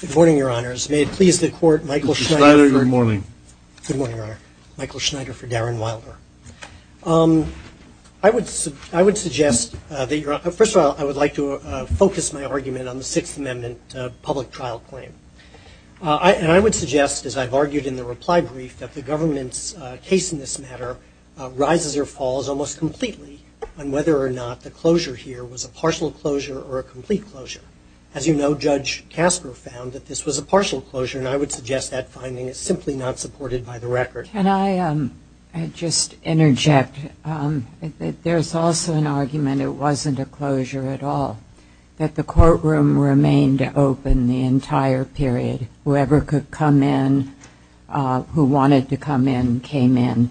Good morning, Your Honors. May it please the Court, Michael Schneider for Darren Wilder. I would suggest that you're – first of all, I would like to focus my argument on the Sixth Amendment public trial claim. And I would suggest, as I've argued in the reply brief, that the government's case in this matter rises or falls almost completely on whether or not the closure here was a partial closure or a complete closure. As you know, Judge Kastner found that this was a partial closure, and I would suggest that finding is simply not supported by the record. Can I just interject? There's also an argument it wasn't a closure at all, that the courtroom remained open the entire period. Whoever could come in, who wanted to come in, came in.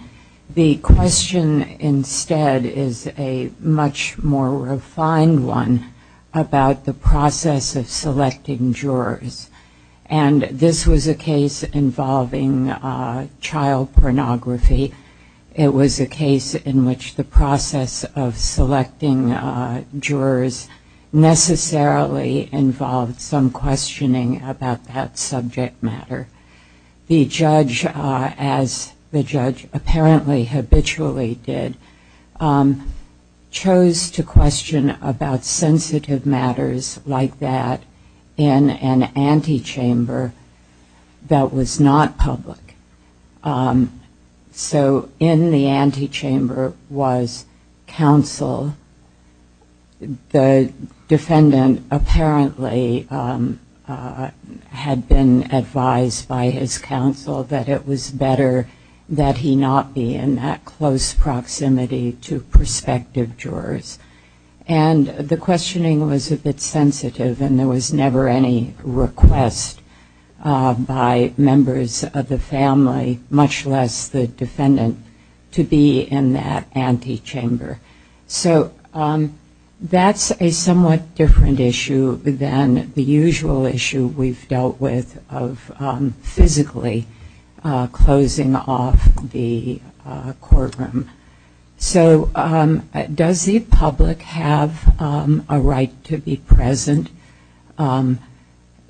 The question instead is a much more refined one about the process of selecting the person who was a victim of child pornography and the process of selecting jurors. And this was a case involving child pornography. It was a case in which the process of selecting jurors necessarily involved some questioning about that subject matter. The judge, as the defendant, was in an antechamber that was not public. So in the antechamber was counsel. The defendant apparently had been advised by his counsel that it was better that he not be in that close proximity to prospective jurors. And the questioning was a bit sensitive, and there was never any request by members of the family, much less the defendant, to be in that antechamber. So that's a somewhat different issue than the usual issue we've had in the courtroom. So does the public have a right to be present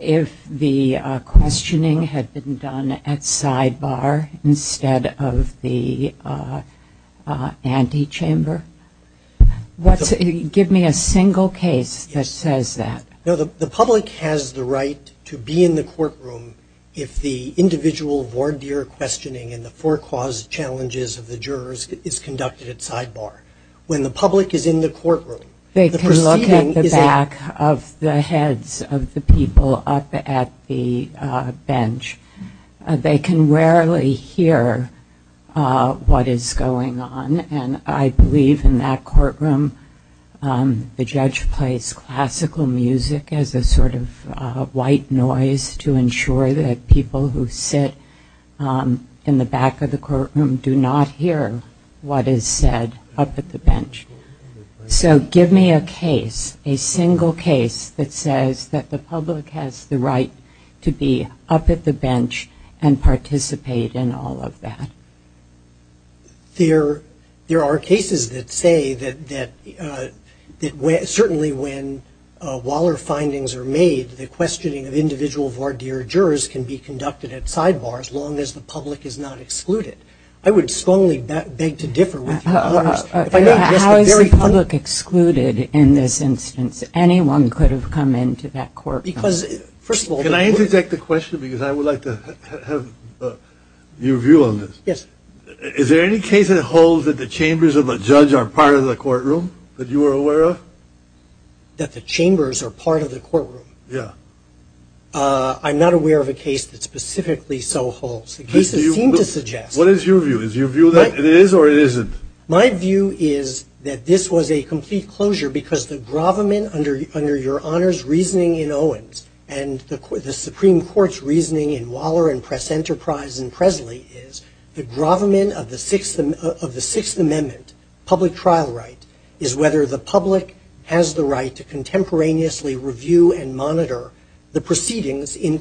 if the questioning had been done at sidebar instead of the antechamber? Give me a single case that says that. The public has the right to be in the courtroom if the individual voir dire questioning and the forecaused challenges of the jurors is conducted at sidebar. When the public is in the courtroom, the proceeding is a... They can look at the back of the heads of the people up at the bench. They can rarely hear what is going on, and I believe in that courtroom the judge plays classical music as a sort of white noise to ensure that people who sit in the back of the courtroom do not hear what is said up at the bench. So give me a case, a single case, that says that the public has the right to be up at the bench and participate in all of that. There are cases that say that certainly when Waller findings are made, the questioning of individual voir dire jurors can be conducted at sidebar as long as the public is not excluded. I would strongly beg to differ with you. How is the public excluded in this instance? Anyone could have come into that courtroom. Because, first of all... Can I interject a question because I would like to have your view on this. Yes. Is there any case that holds that the chambers of a judge are part of the courtroom that you are aware of? That the chambers are part of the courtroom? Yeah. I'm not aware of a case that specifically so holds. The cases seem to suggest... What is your view? Is your view that it is or it isn't? My view is that this was a complete closure because the grovement under your Honor's reasoning in Owens and the Supreme Court's reasoning in Waller and Press Enterprise and Presley is the grovement of the Sixth Amendment public trial right is whether the public has the right to contemporaneously review and monitor the proceedings in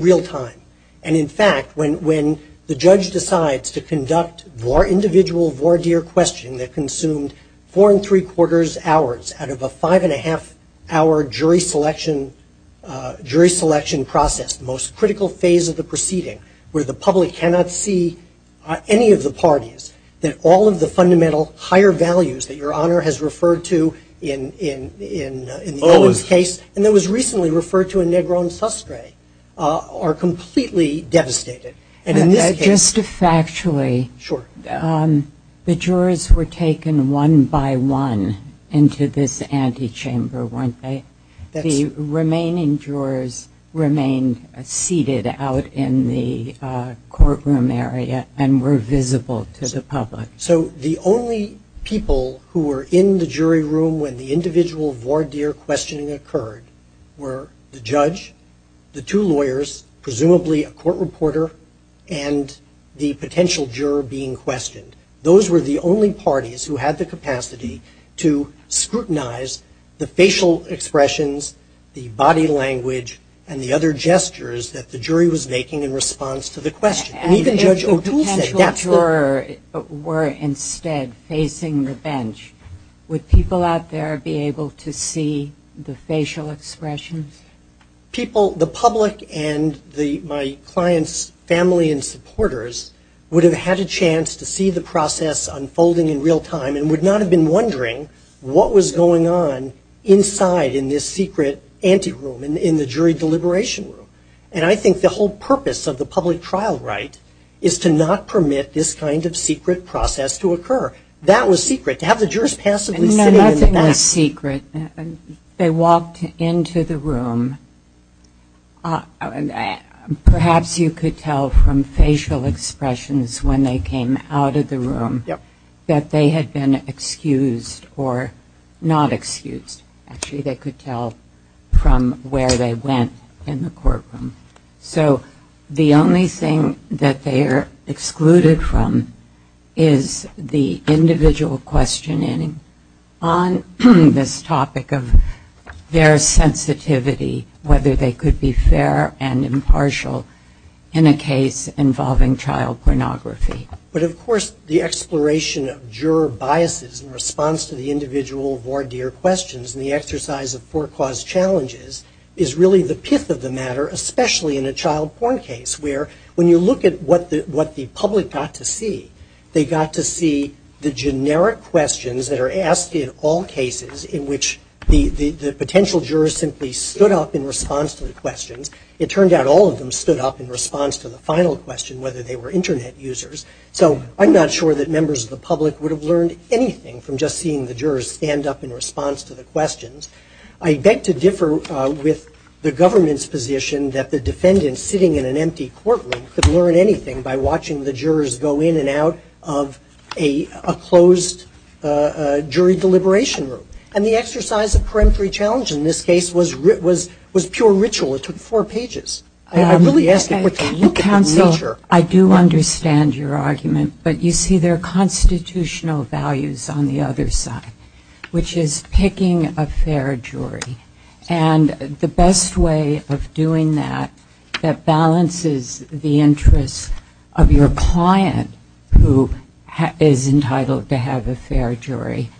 real time. In fact, when the judge decides to conduct individual voir dire questioning that consumed four and three quarters hours out of a five and a half hour jury selection process, the most critical phase of the proceeding, where the public cannot see any of the parties, that all of the fundamental higher values that your Honor has referred to in the Owens case and that was recently referred to in Negron Sastre are completely devastated. Just factually, the jurors were taken one by one into this antechamber, weren't they? The remaining jurors remained seated out in the courtroom area and were visible to the public. So the only people who were in the jury room when the individual voir dire questioning occurred were the judge, the two lawyers, presumably a court reporter, and the potential juror being questioned. Those were the only parties who had the capacity to scrutinize the facial expressions, the body language, and the other gestures that the jury was making in response to the question. And if the potential juror were instead facing the bench, would people out there be able to see the facial expressions? People, the public and my client's family and supporters would have had a chance to see the process unfolding in real time and would not have been wondering what was going on inside in this secret ante room, in the jury deliberation room. And I think the whole purpose of the public trial right is to not permit this kind of secret process to occur. That was secret, to have the jurors passively sitting in the back. It wasn't a secret. They walked into the room. Perhaps you could tell from facial expressions when they came out of the room that they had been excused or not excused. Actually, they could tell from where they went in the courtroom. So the only thing that they are excluded from is the individual questioning. On the court this topic of their sensitivity, whether they could be fair and impartial in a case involving child pornography. But of course, the exploration of juror biases in response to the individual voir dire questions and the exercise of forecaused challenges is really the pith of the matter, especially in a child porn case, where when you look at what the public got to see, they got to see the generic questions that are asked in all cases in which the potential jurors simply stood up in response to the questions. It turned out all of them stood up in response to the final question, whether they were Internet users. So I'm not sure that members of the public would have learned anything from just seeing the jurors stand up in response to the questions. I beg to differ with the government's position that the defendant sitting in an empty courtroom could learn anything by watching the jurors go in and out of a closed jury deliberation room. And the exercise of peremptory challenge in this case was pure ritual. It took four pages. I really ask that we look at the nature. Counsel, I do understand your argument, but you see there are constitutional values on the other side, which is picking a fair jury. And the best way of doing that that balances the interests of your client, who is entitled to have a fair jury,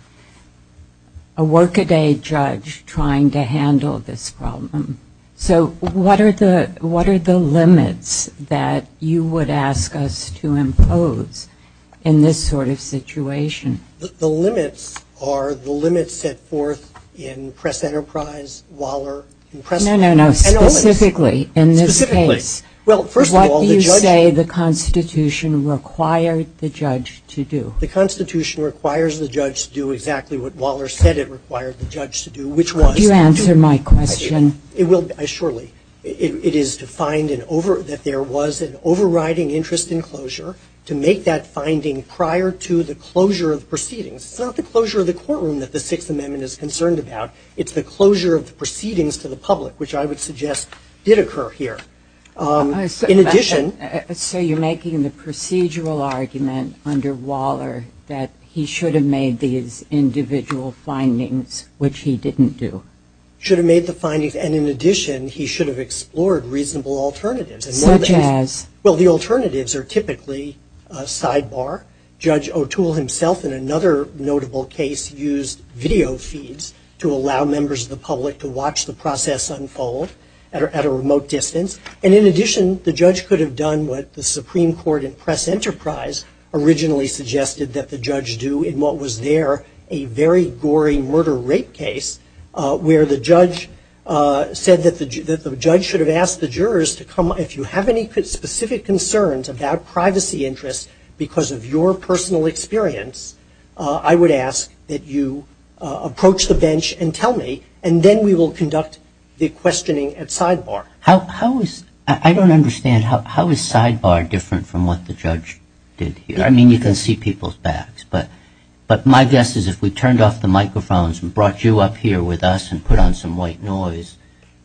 a work-a-day judge trying to handle this problem. So what are the limits that you would ask us to impose in this sort of situation? The limits are the limits set forth in Press Enterprise, Waller, and Press Corp. No, no, no. Specifically, in this case, what do you say the Constitution required the judge to do? The Constitution requires the judge to do exactly what Waller said it required the judge to do, which was to do. Would you answer my question? It will, surely. It is to find that there was an overriding interest in closure, to make that finding prior to the closure of proceedings. It's not the closure of the courtroom that the Sixth Amendment is concerned about. It's the closure of the proceedings to the court, which I would suggest did occur here. So you're making the procedural argument under Waller that he should have made these individual findings, which he didn't do? Should have made the findings, and in addition, he should have explored reasonable alternatives. Such as? Well, the alternatives are typically sidebar. Judge O'Toole himself, in another notable case, used video feeds to allow members of the public to watch the process unfold at a remote distance. And in addition, the judge could have done what the Supreme Court and Press Enterprise originally suggested that the judge do in what was there a very gory murder-rape case, where the judge said that the judge should have asked the jurors to come. If you have any specific concerns about privacy interests because of your personal experience, I would ask that you approach the bench and tell me, and then we will conduct the questioning at sidebar. How is – I don't understand. How is sidebar different from what the judge did here? I mean, you can see people's backs. But my guess is if we turned off the microphones and brought you up here with us and put on some white noise,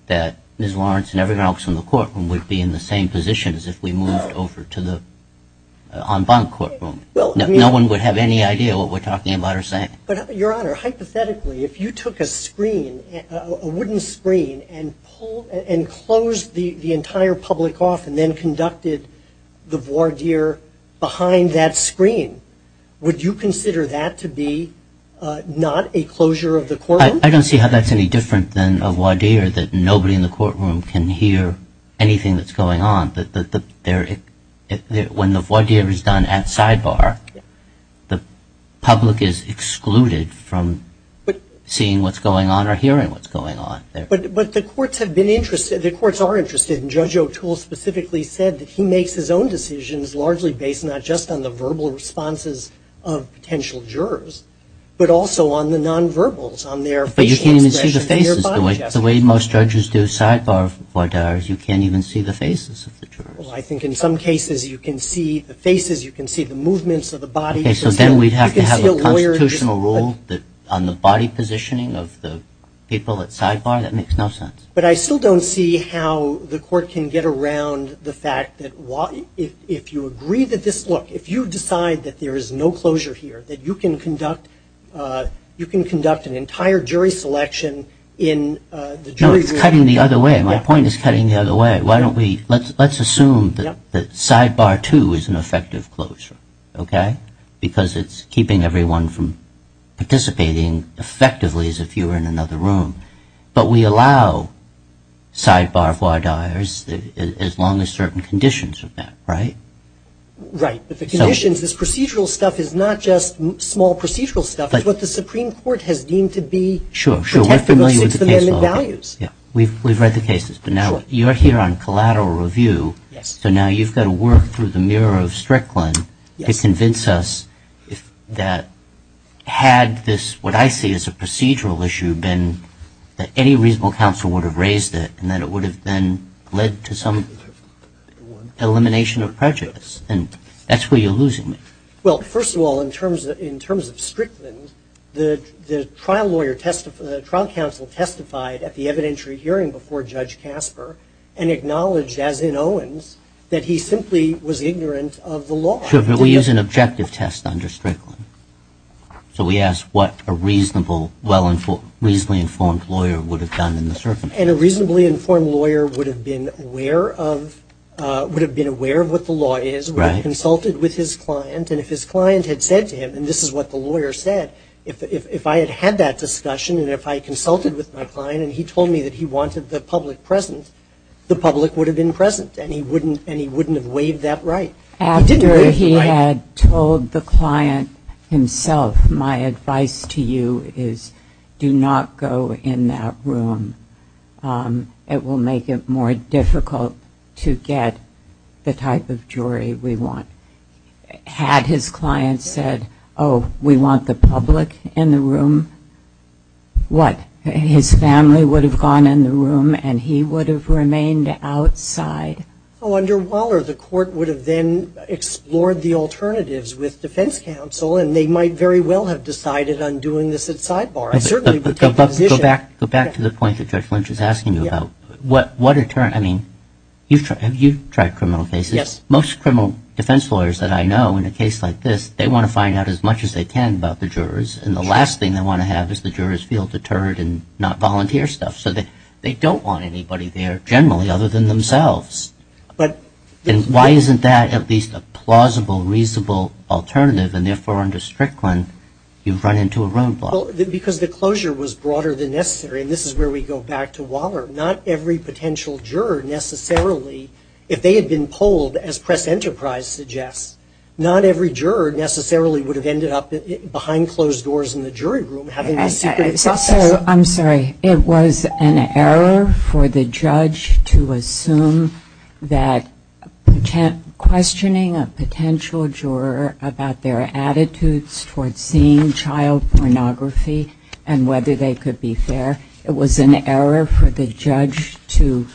that Ms. Lawrence and everyone else in the courtroom would be in the same position as if we moved over to the en banc courtroom. Well, I mean – No one would have any idea what we're talking about or saying. But, Your Honor, hypothetically, if you took a screen, a wooden screen, and closed the entire public off and then conducted the voir dire behind that screen, would you consider that to be not a closure of the courtroom? I don't see how that's any different than a voir dire, that nobody in the courtroom can hear anything that's going on. When the voir dire is done at sidebar, the public is excluded from seeing what's going on or hearing what's going on. But the courts have been interested – the courts are interested, and Judge O'Toole specifically said that he makes his own decisions largely based not just on the verbal responses of potential jurors, but also on the nonverbals, on their facial expressions, their body gestures. But the way most judges do sidebar voir dires, you can't even see the faces of the jurors. Well, I think in some cases you can see the faces, you can see the movements of the body. Okay, so then we'd have to have a constitutional rule on the body positioning of the people at sidebar? That makes no sense. But I still don't see how the court can get around the fact that if you agree that this – look, if you decide that there is no closure here, that you can conduct an entire jury selection in the jury room. No, it's cutting the other way. My point is cutting the other way. Why don't we – let's assume that sidebar two is an effective closure, okay, because it's keeping everyone from participating effectively as if you were in another room. But we allow sidebar voir dires as long as certain conditions are met, right? Right, but the conditions – this procedural stuff is not just small procedural stuff. It's what the Supreme Court has deemed to be – Sure, sure. We're familiar with the case law. – protected by the Six Amendment Values. Yeah, we've read the cases, but now you're here on collateral review, so now you've got to work through the mirror of Strickland to convince us that had this – what I see as a procedural issue been that any reasonable counsel would have raised it and that it would have then led to some elimination of prejudice. And that's where you're losing me. Well, first of all, in terms of Strickland, the trial lawyer – the trial counsel testified at the evidentiary hearing before Judge Casper and acknowledged, as in Owens, that he simply was ignorant of the law. Sure, but we use an objective test under Strickland. So we ask what a reasonable, well – reasonably informed lawyer would have done in the circumstance. And a reasonably informed lawyer would have been aware of – would have been aware of what the law is, would have consulted with his client, and if his client had said to him – and this is what the lawyer said – if I had had that discussion and if I consulted with my client and he told me that he wanted the public present, the public would have been present, and he wouldn't – and he wouldn't have waived that right. After he had told the client himself, my advice to you is do not go in that room. It will make it more difficult to get the type of jury we want. Had his client said, oh, we want the public in the room, what? His family would have gone in the room and he would have remained outside. Oh, under Waller, the court would have then explored the alternatives with defense counsel, and they might very well have decided on doing this at sidebar. Go back to the point that Judge Lynch is asking you about. What – I mean, you've tried criminal cases. Yes. Most criminal defense lawyers that I know in a case like this, they want to find out as much as they can about the jurors, and the last thing they want to have is the jurors feel deterred and not volunteer stuff. So they don't want anybody there generally other than themselves. But – And why isn't that at least a plausible, reasonable alternative, and therefore under Strickland you've run into a roadblock? Because the closure was broader than necessary, and this is where we go back to Waller. Not every potential juror necessarily, if they had been polled, as Press Enterprise suggests, not every juror necessarily would have ended up behind closed doors in the jury room having this secretive process. I'm sorry. It was an error for the judge to assume that questioning a potential juror about their attitudes toward seeing child pornography and whether they could be fair. It was an error for the judge to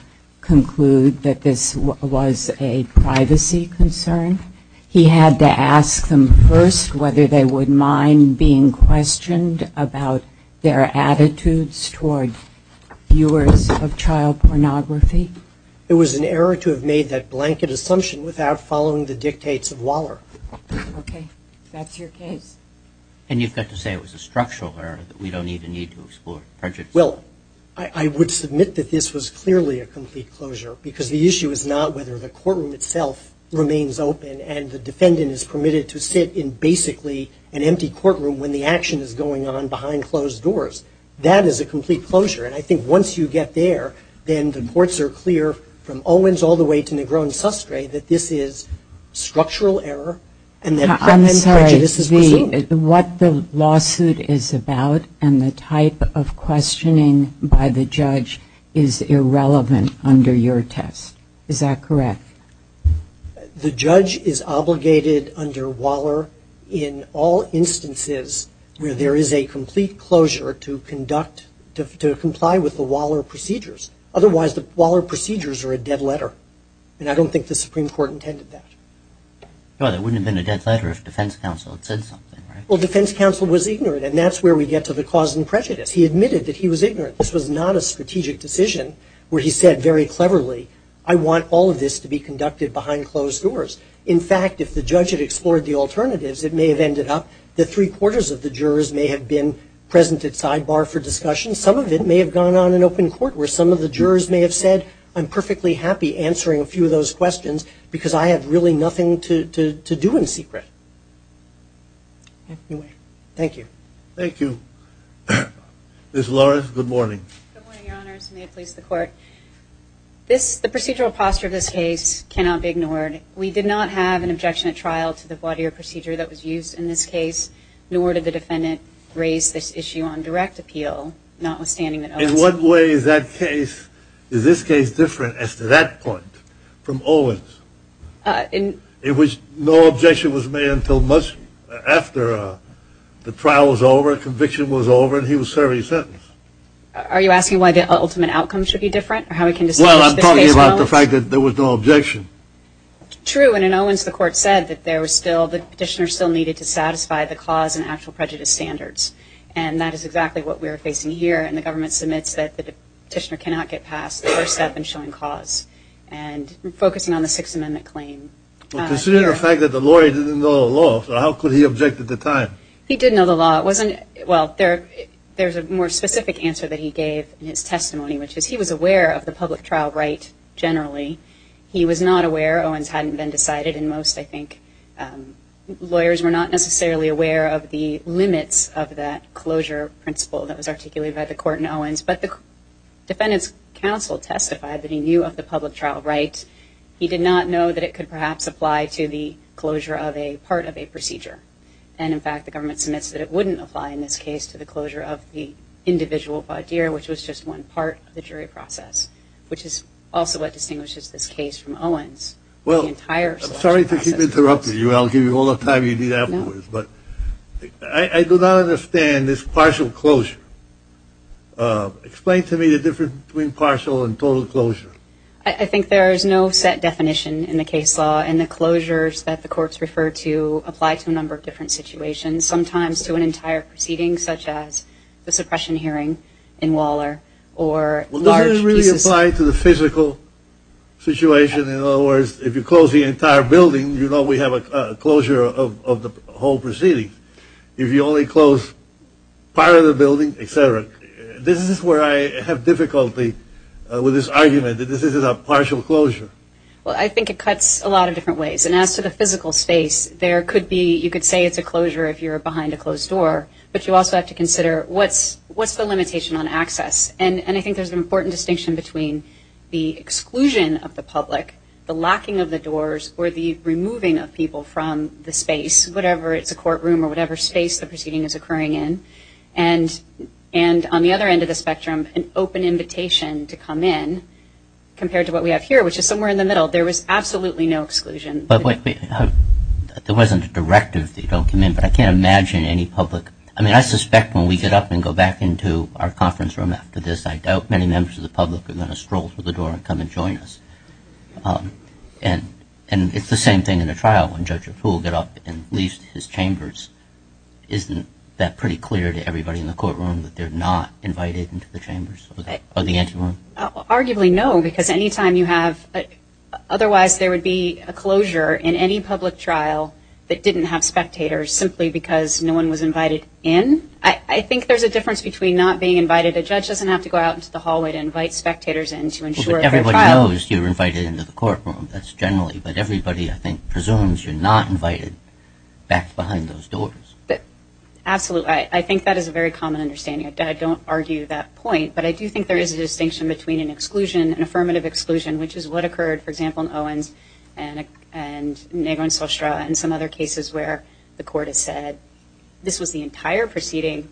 conclude that this was a privacy concern. He had to ask them first whether they would mind being questioned about their attitudes toward viewers of child pornography. It was an error to have made that blanket assumption without following the dictates of Waller. Okay. That's your case. And you've got to say it was a structural error that we don't even need to explore. Well, I would submit that this was clearly a complete closure because the issue is not whether the courtroom itself remains open and the defendant is permitted to sit in basically an empty courtroom when the action is going on behind closed doors. That is a complete closure. And I think once you get there, then the courts are clear from Owens all the way to Negron-Sastre that this is structural error and that prejudice is presumed. I'm sorry. What the lawsuit is about and the type of questioning by the judge is irrelevant under your test. Is that correct? The judge is obligated under Waller in all instances where there is a complete closure to conduct, to comply with the Waller procedures. Otherwise, the Waller procedures are a dead letter and I don't think the Supreme Court intended that. Well, it wouldn't have been a dead letter if defense counsel had said something, right? Well, defense counsel was ignorant and that's where we get to the cause and prejudice. He admitted that he was ignorant. This was not a strategic decision where he said very cleverly, I want all of this to be conducted behind closed doors. In fact, if the judge had explored the alternatives, it may have ended up that three-quarters of the jurors may have been present at sidebar for discussion. Some of it may have gone on in open court where some of the jurors may have said, I'm perfectly happy answering a few of those questions because I have really nothing to do in secret. Anyway, thank you. Thank you. Ms. Lawrence, good morning. Good morning, Your Honors. May it please the Court. The procedural posture of this case cannot be ignored. We did not have an objection at trial to the voir dire procedure that was used in this case, nor did the defendant raise this issue on direct appeal, notwithstanding that Owens... In what way is that case, is this case different as to that point from Owens? In which no objection was made until much after the trial was over, conviction was over, and he was serving his sentence. Are you asking why the ultimate outcome should be different or how we can distinguish this case from Owens? Well, I'm talking about the fact that there was no objection. True, and in Owens, the Court said that there still needed to satisfy the cause and actual prejudice standards, and that is exactly what we are facing here, and the government submits that the petitioner cannot get past the first step in showing cause, and focusing on the Sixth Amendment claim. Well, considering the fact that the lawyer didn't know the law, how could he object at the time? He did know the law. It wasn't... Well, there's a more specific answer that he gave in his testimony, which is he was aware of the public aware of the limits of that closure principle that was articulated by the Court in Owens, but the Defendant's counsel testified that he knew of the public trial rights. He did not know that it could perhaps apply to the closure of a part of a procedure, and in fact, the government submits that it wouldn't apply in this case to the closure of the individual bodier, which was just one part of the jury process, which is also what distinguishes this case from Owens. Well, I'm sorry to keep interrupting you. I'll give you all the time you need afterwards, but I do not understand this partial closure. Explain to me the difference between partial and total closure. I think there is no set definition in the case law, and the closures that the courts refer to apply to a number of different situations, sometimes to an entire proceeding, such as the suppression hearing in Waller, or large pieces... Well, does it really apply to the physical situation? In other words, if you close the entire building, you know we have a closure of the whole proceeding. If you only close part of the building, etc. This is where I have difficulty with this argument, that this is a partial closure. Well, I think it cuts a lot of different ways, and as to the physical space, there could be... You could say it's a closure if you're behind a closed door, but you also have to consider what's the limitation on access? And I think there's an important distinction between the exclusion of the public, the locking of the doors, or the removing of people from the space, whatever it's a courtroom or whatever space the proceeding is occurring in, and on the other end of the spectrum, an open invitation to come in, compared to what we have here, which is somewhere in the middle. There was absolutely no exclusion. But wait, there wasn't a directive that you don't come in, but I can't imagine any public... I mean, I suspect when we get up and go back into our conference room after this, I doubt many members of the public are going to stroll through the door and come and join us. And it's the same thing in a trial, when Judge Apool gets up and leaves his chambers. Isn't that pretty clear to everybody in the courtroom, that they're not invited into the chambers? Or the ante room? Arguably no, because any time you have... Otherwise, there would be a closure in any public trial that didn't have spectators, simply because no one was invited in. I think there's a difference between not being invited. A judge doesn't have to go out into the hallway to invite spectators in to ensure a fair trial. Well, but everybody knows you're invited into the courtroom. That's generally... But everybody, I think, presumes you're not invited back behind those doors. Absolutely. I think that is a very common understanding. I don't argue that point. But I do think there is a distinction between an exclusion, an affirmative exclusion, which is what occurred, for example, in Owens and Nago and Sostra, and some other cases where the court has said this was the entire proceeding.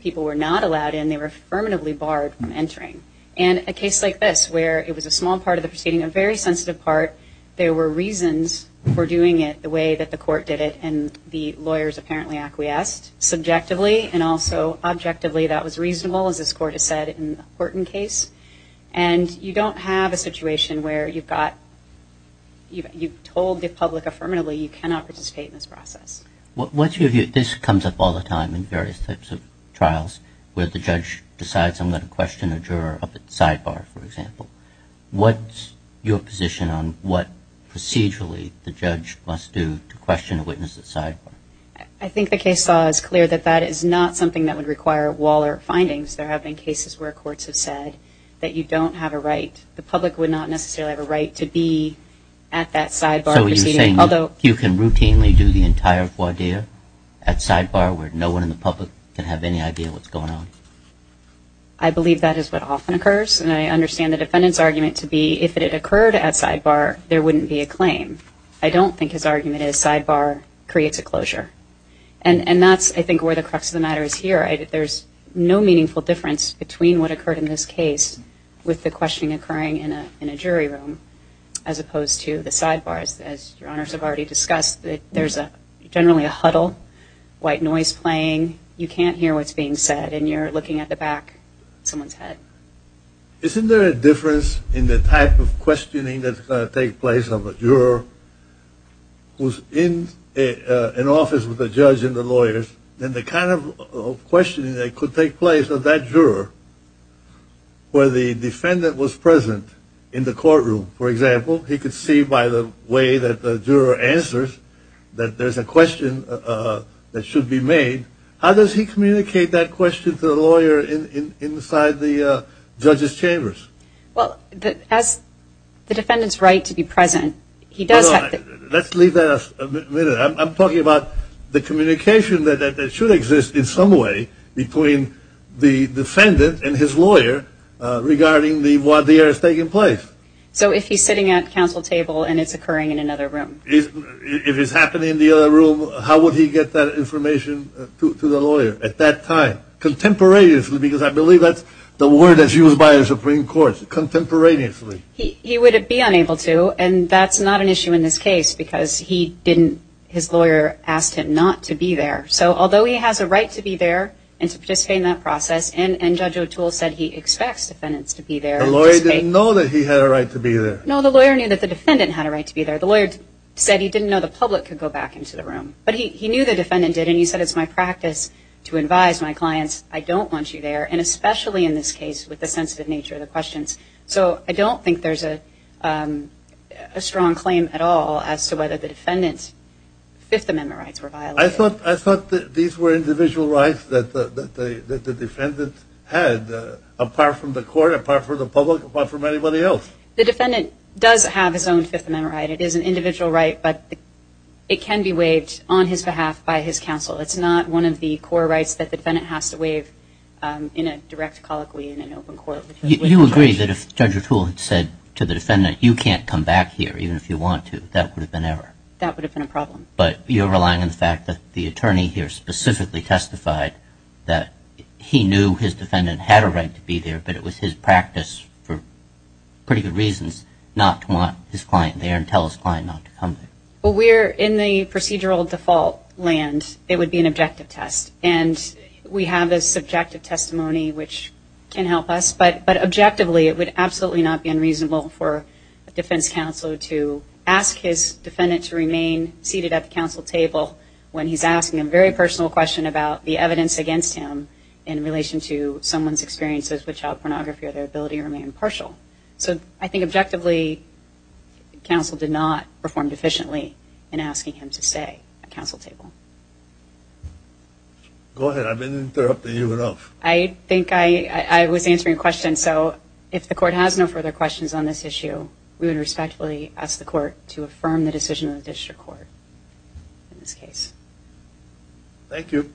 People were not allowed in. They were affirmatively barred from entering. And a case like this, where it was a small part of the proceeding, a very sensitive part, there were reasons for doing it the way that the court did it, and the lawyers apparently acquiesced subjectively and also objectively. That was reasonable, as this court has said, in the Horton case. And you don't have a situation where you've told the public affirmatively you cannot participate in this process. This comes up all the time in various types of trials, where the judge decides I'm going to question a juror up at sidebar, for example. What's your position on what procedurally the judge must do to question a witness at sidebar? I think the case law is clear that that is not something that would require Waller findings. There have been cases where courts have said that you don't have a right. The public would not necessarily have a right to be at that sidebar proceeding. So you're saying you can routinely do the entire voir dire at sidebar where no one in the public can have any idea what's going on? I believe that is what often occurs, and I understand the defendant's argument to be if it had occurred at sidebar, there wouldn't be a claim. I don't think his argument is sidebar creates a closure. And that's, I think, where the crux of the matter is here. There's no meaningful difference between what occurred in this case with the questioning occurring in a jury room as opposed to the sidebars. As Your Honors have already discussed, there's generally a huddle, white noise playing, you can't hear what's being said, and you're looking at the back of someone's head. Isn't there a difference in the type of questioning that's going to take place of a juror who's in an office with a judge and the lawyers, and the kind of questioning that could take place of that juror where the defendant was present in the courtroom. For example, he could see by the way that the juror answers that there's a question that should be made. How does he communicate that question to the lawyer inside the judge's chambers? Well, as the defendant's right to be present, he does have to Hold on. Let's leave that a minute. I'm talking about the communication that should exist in some way between the defendant and his lawyer regarding what there is taking place. So if he's sitting at a council table and it's occurring in another room. If it's happening in the other room, how would he get that information to the lawyer at that time? Contemporaneously, because I believe that's the word that's used by the Supreme Court. Contemporaneously. He would be unable to, and that's not an issue in this case because his lawyer asked him not to be there. So although he has a right to be there and to participate in that process, and Judge O'Toole said he expects defendants to be there. The lawyer didn't know that he had a right to be there. No, the lawyer knew that the defendant had a right to be there. The lawyer said he didn't know the public could go back into the room. But he knew the defendant did, and he said it's my practice to advise my clients, I don't want you there, and especially in this case with the sensitive nature of the questions. So I don't think there's a strong claim at all as to whether the defendant's Fifth Amendment rights were violated. I thought these were individual rights that the defendant had, apart from the court, apart from the public, apart from anybody else. The defendant does have his own Fifth Amendment right. It is an individual right, but it can be waived on his behalf by his counsel. It's not one of the core rights that the defendant has to waive in a direct colloquy in an open court. You agree that if Judge O'Toole had said to the defendant, you can't come back here even if you want to, that would have been error? That would have been a problem. But you're relying on the fact that the attorney here specifically testified that he knew his defendant had a right to be there, but it was his practice for pretty good reasons not to want his client there and tell his client not to come there. Well, we're in the procedural default land. It would be an objective test, and we have a subjective testimony which can help us. But objectively, it would absolutely not be unreasonable for a defense counsel to ask his defendant to remain seated at the counsel table when he's asking a very personal question about the evidence against him in relation to someone's experiences with child pornography or their ability to remain impartial. So I think objectively, counsel did not perform deficiently in asking him to stay at counsel table. Go ahead. I didn't interrupt you enough. I think I was answering a question. So if the court has no further questions on this issue, we would respectfully ask the court to affirm the decision of the district court in this case. Thank you. Thank you.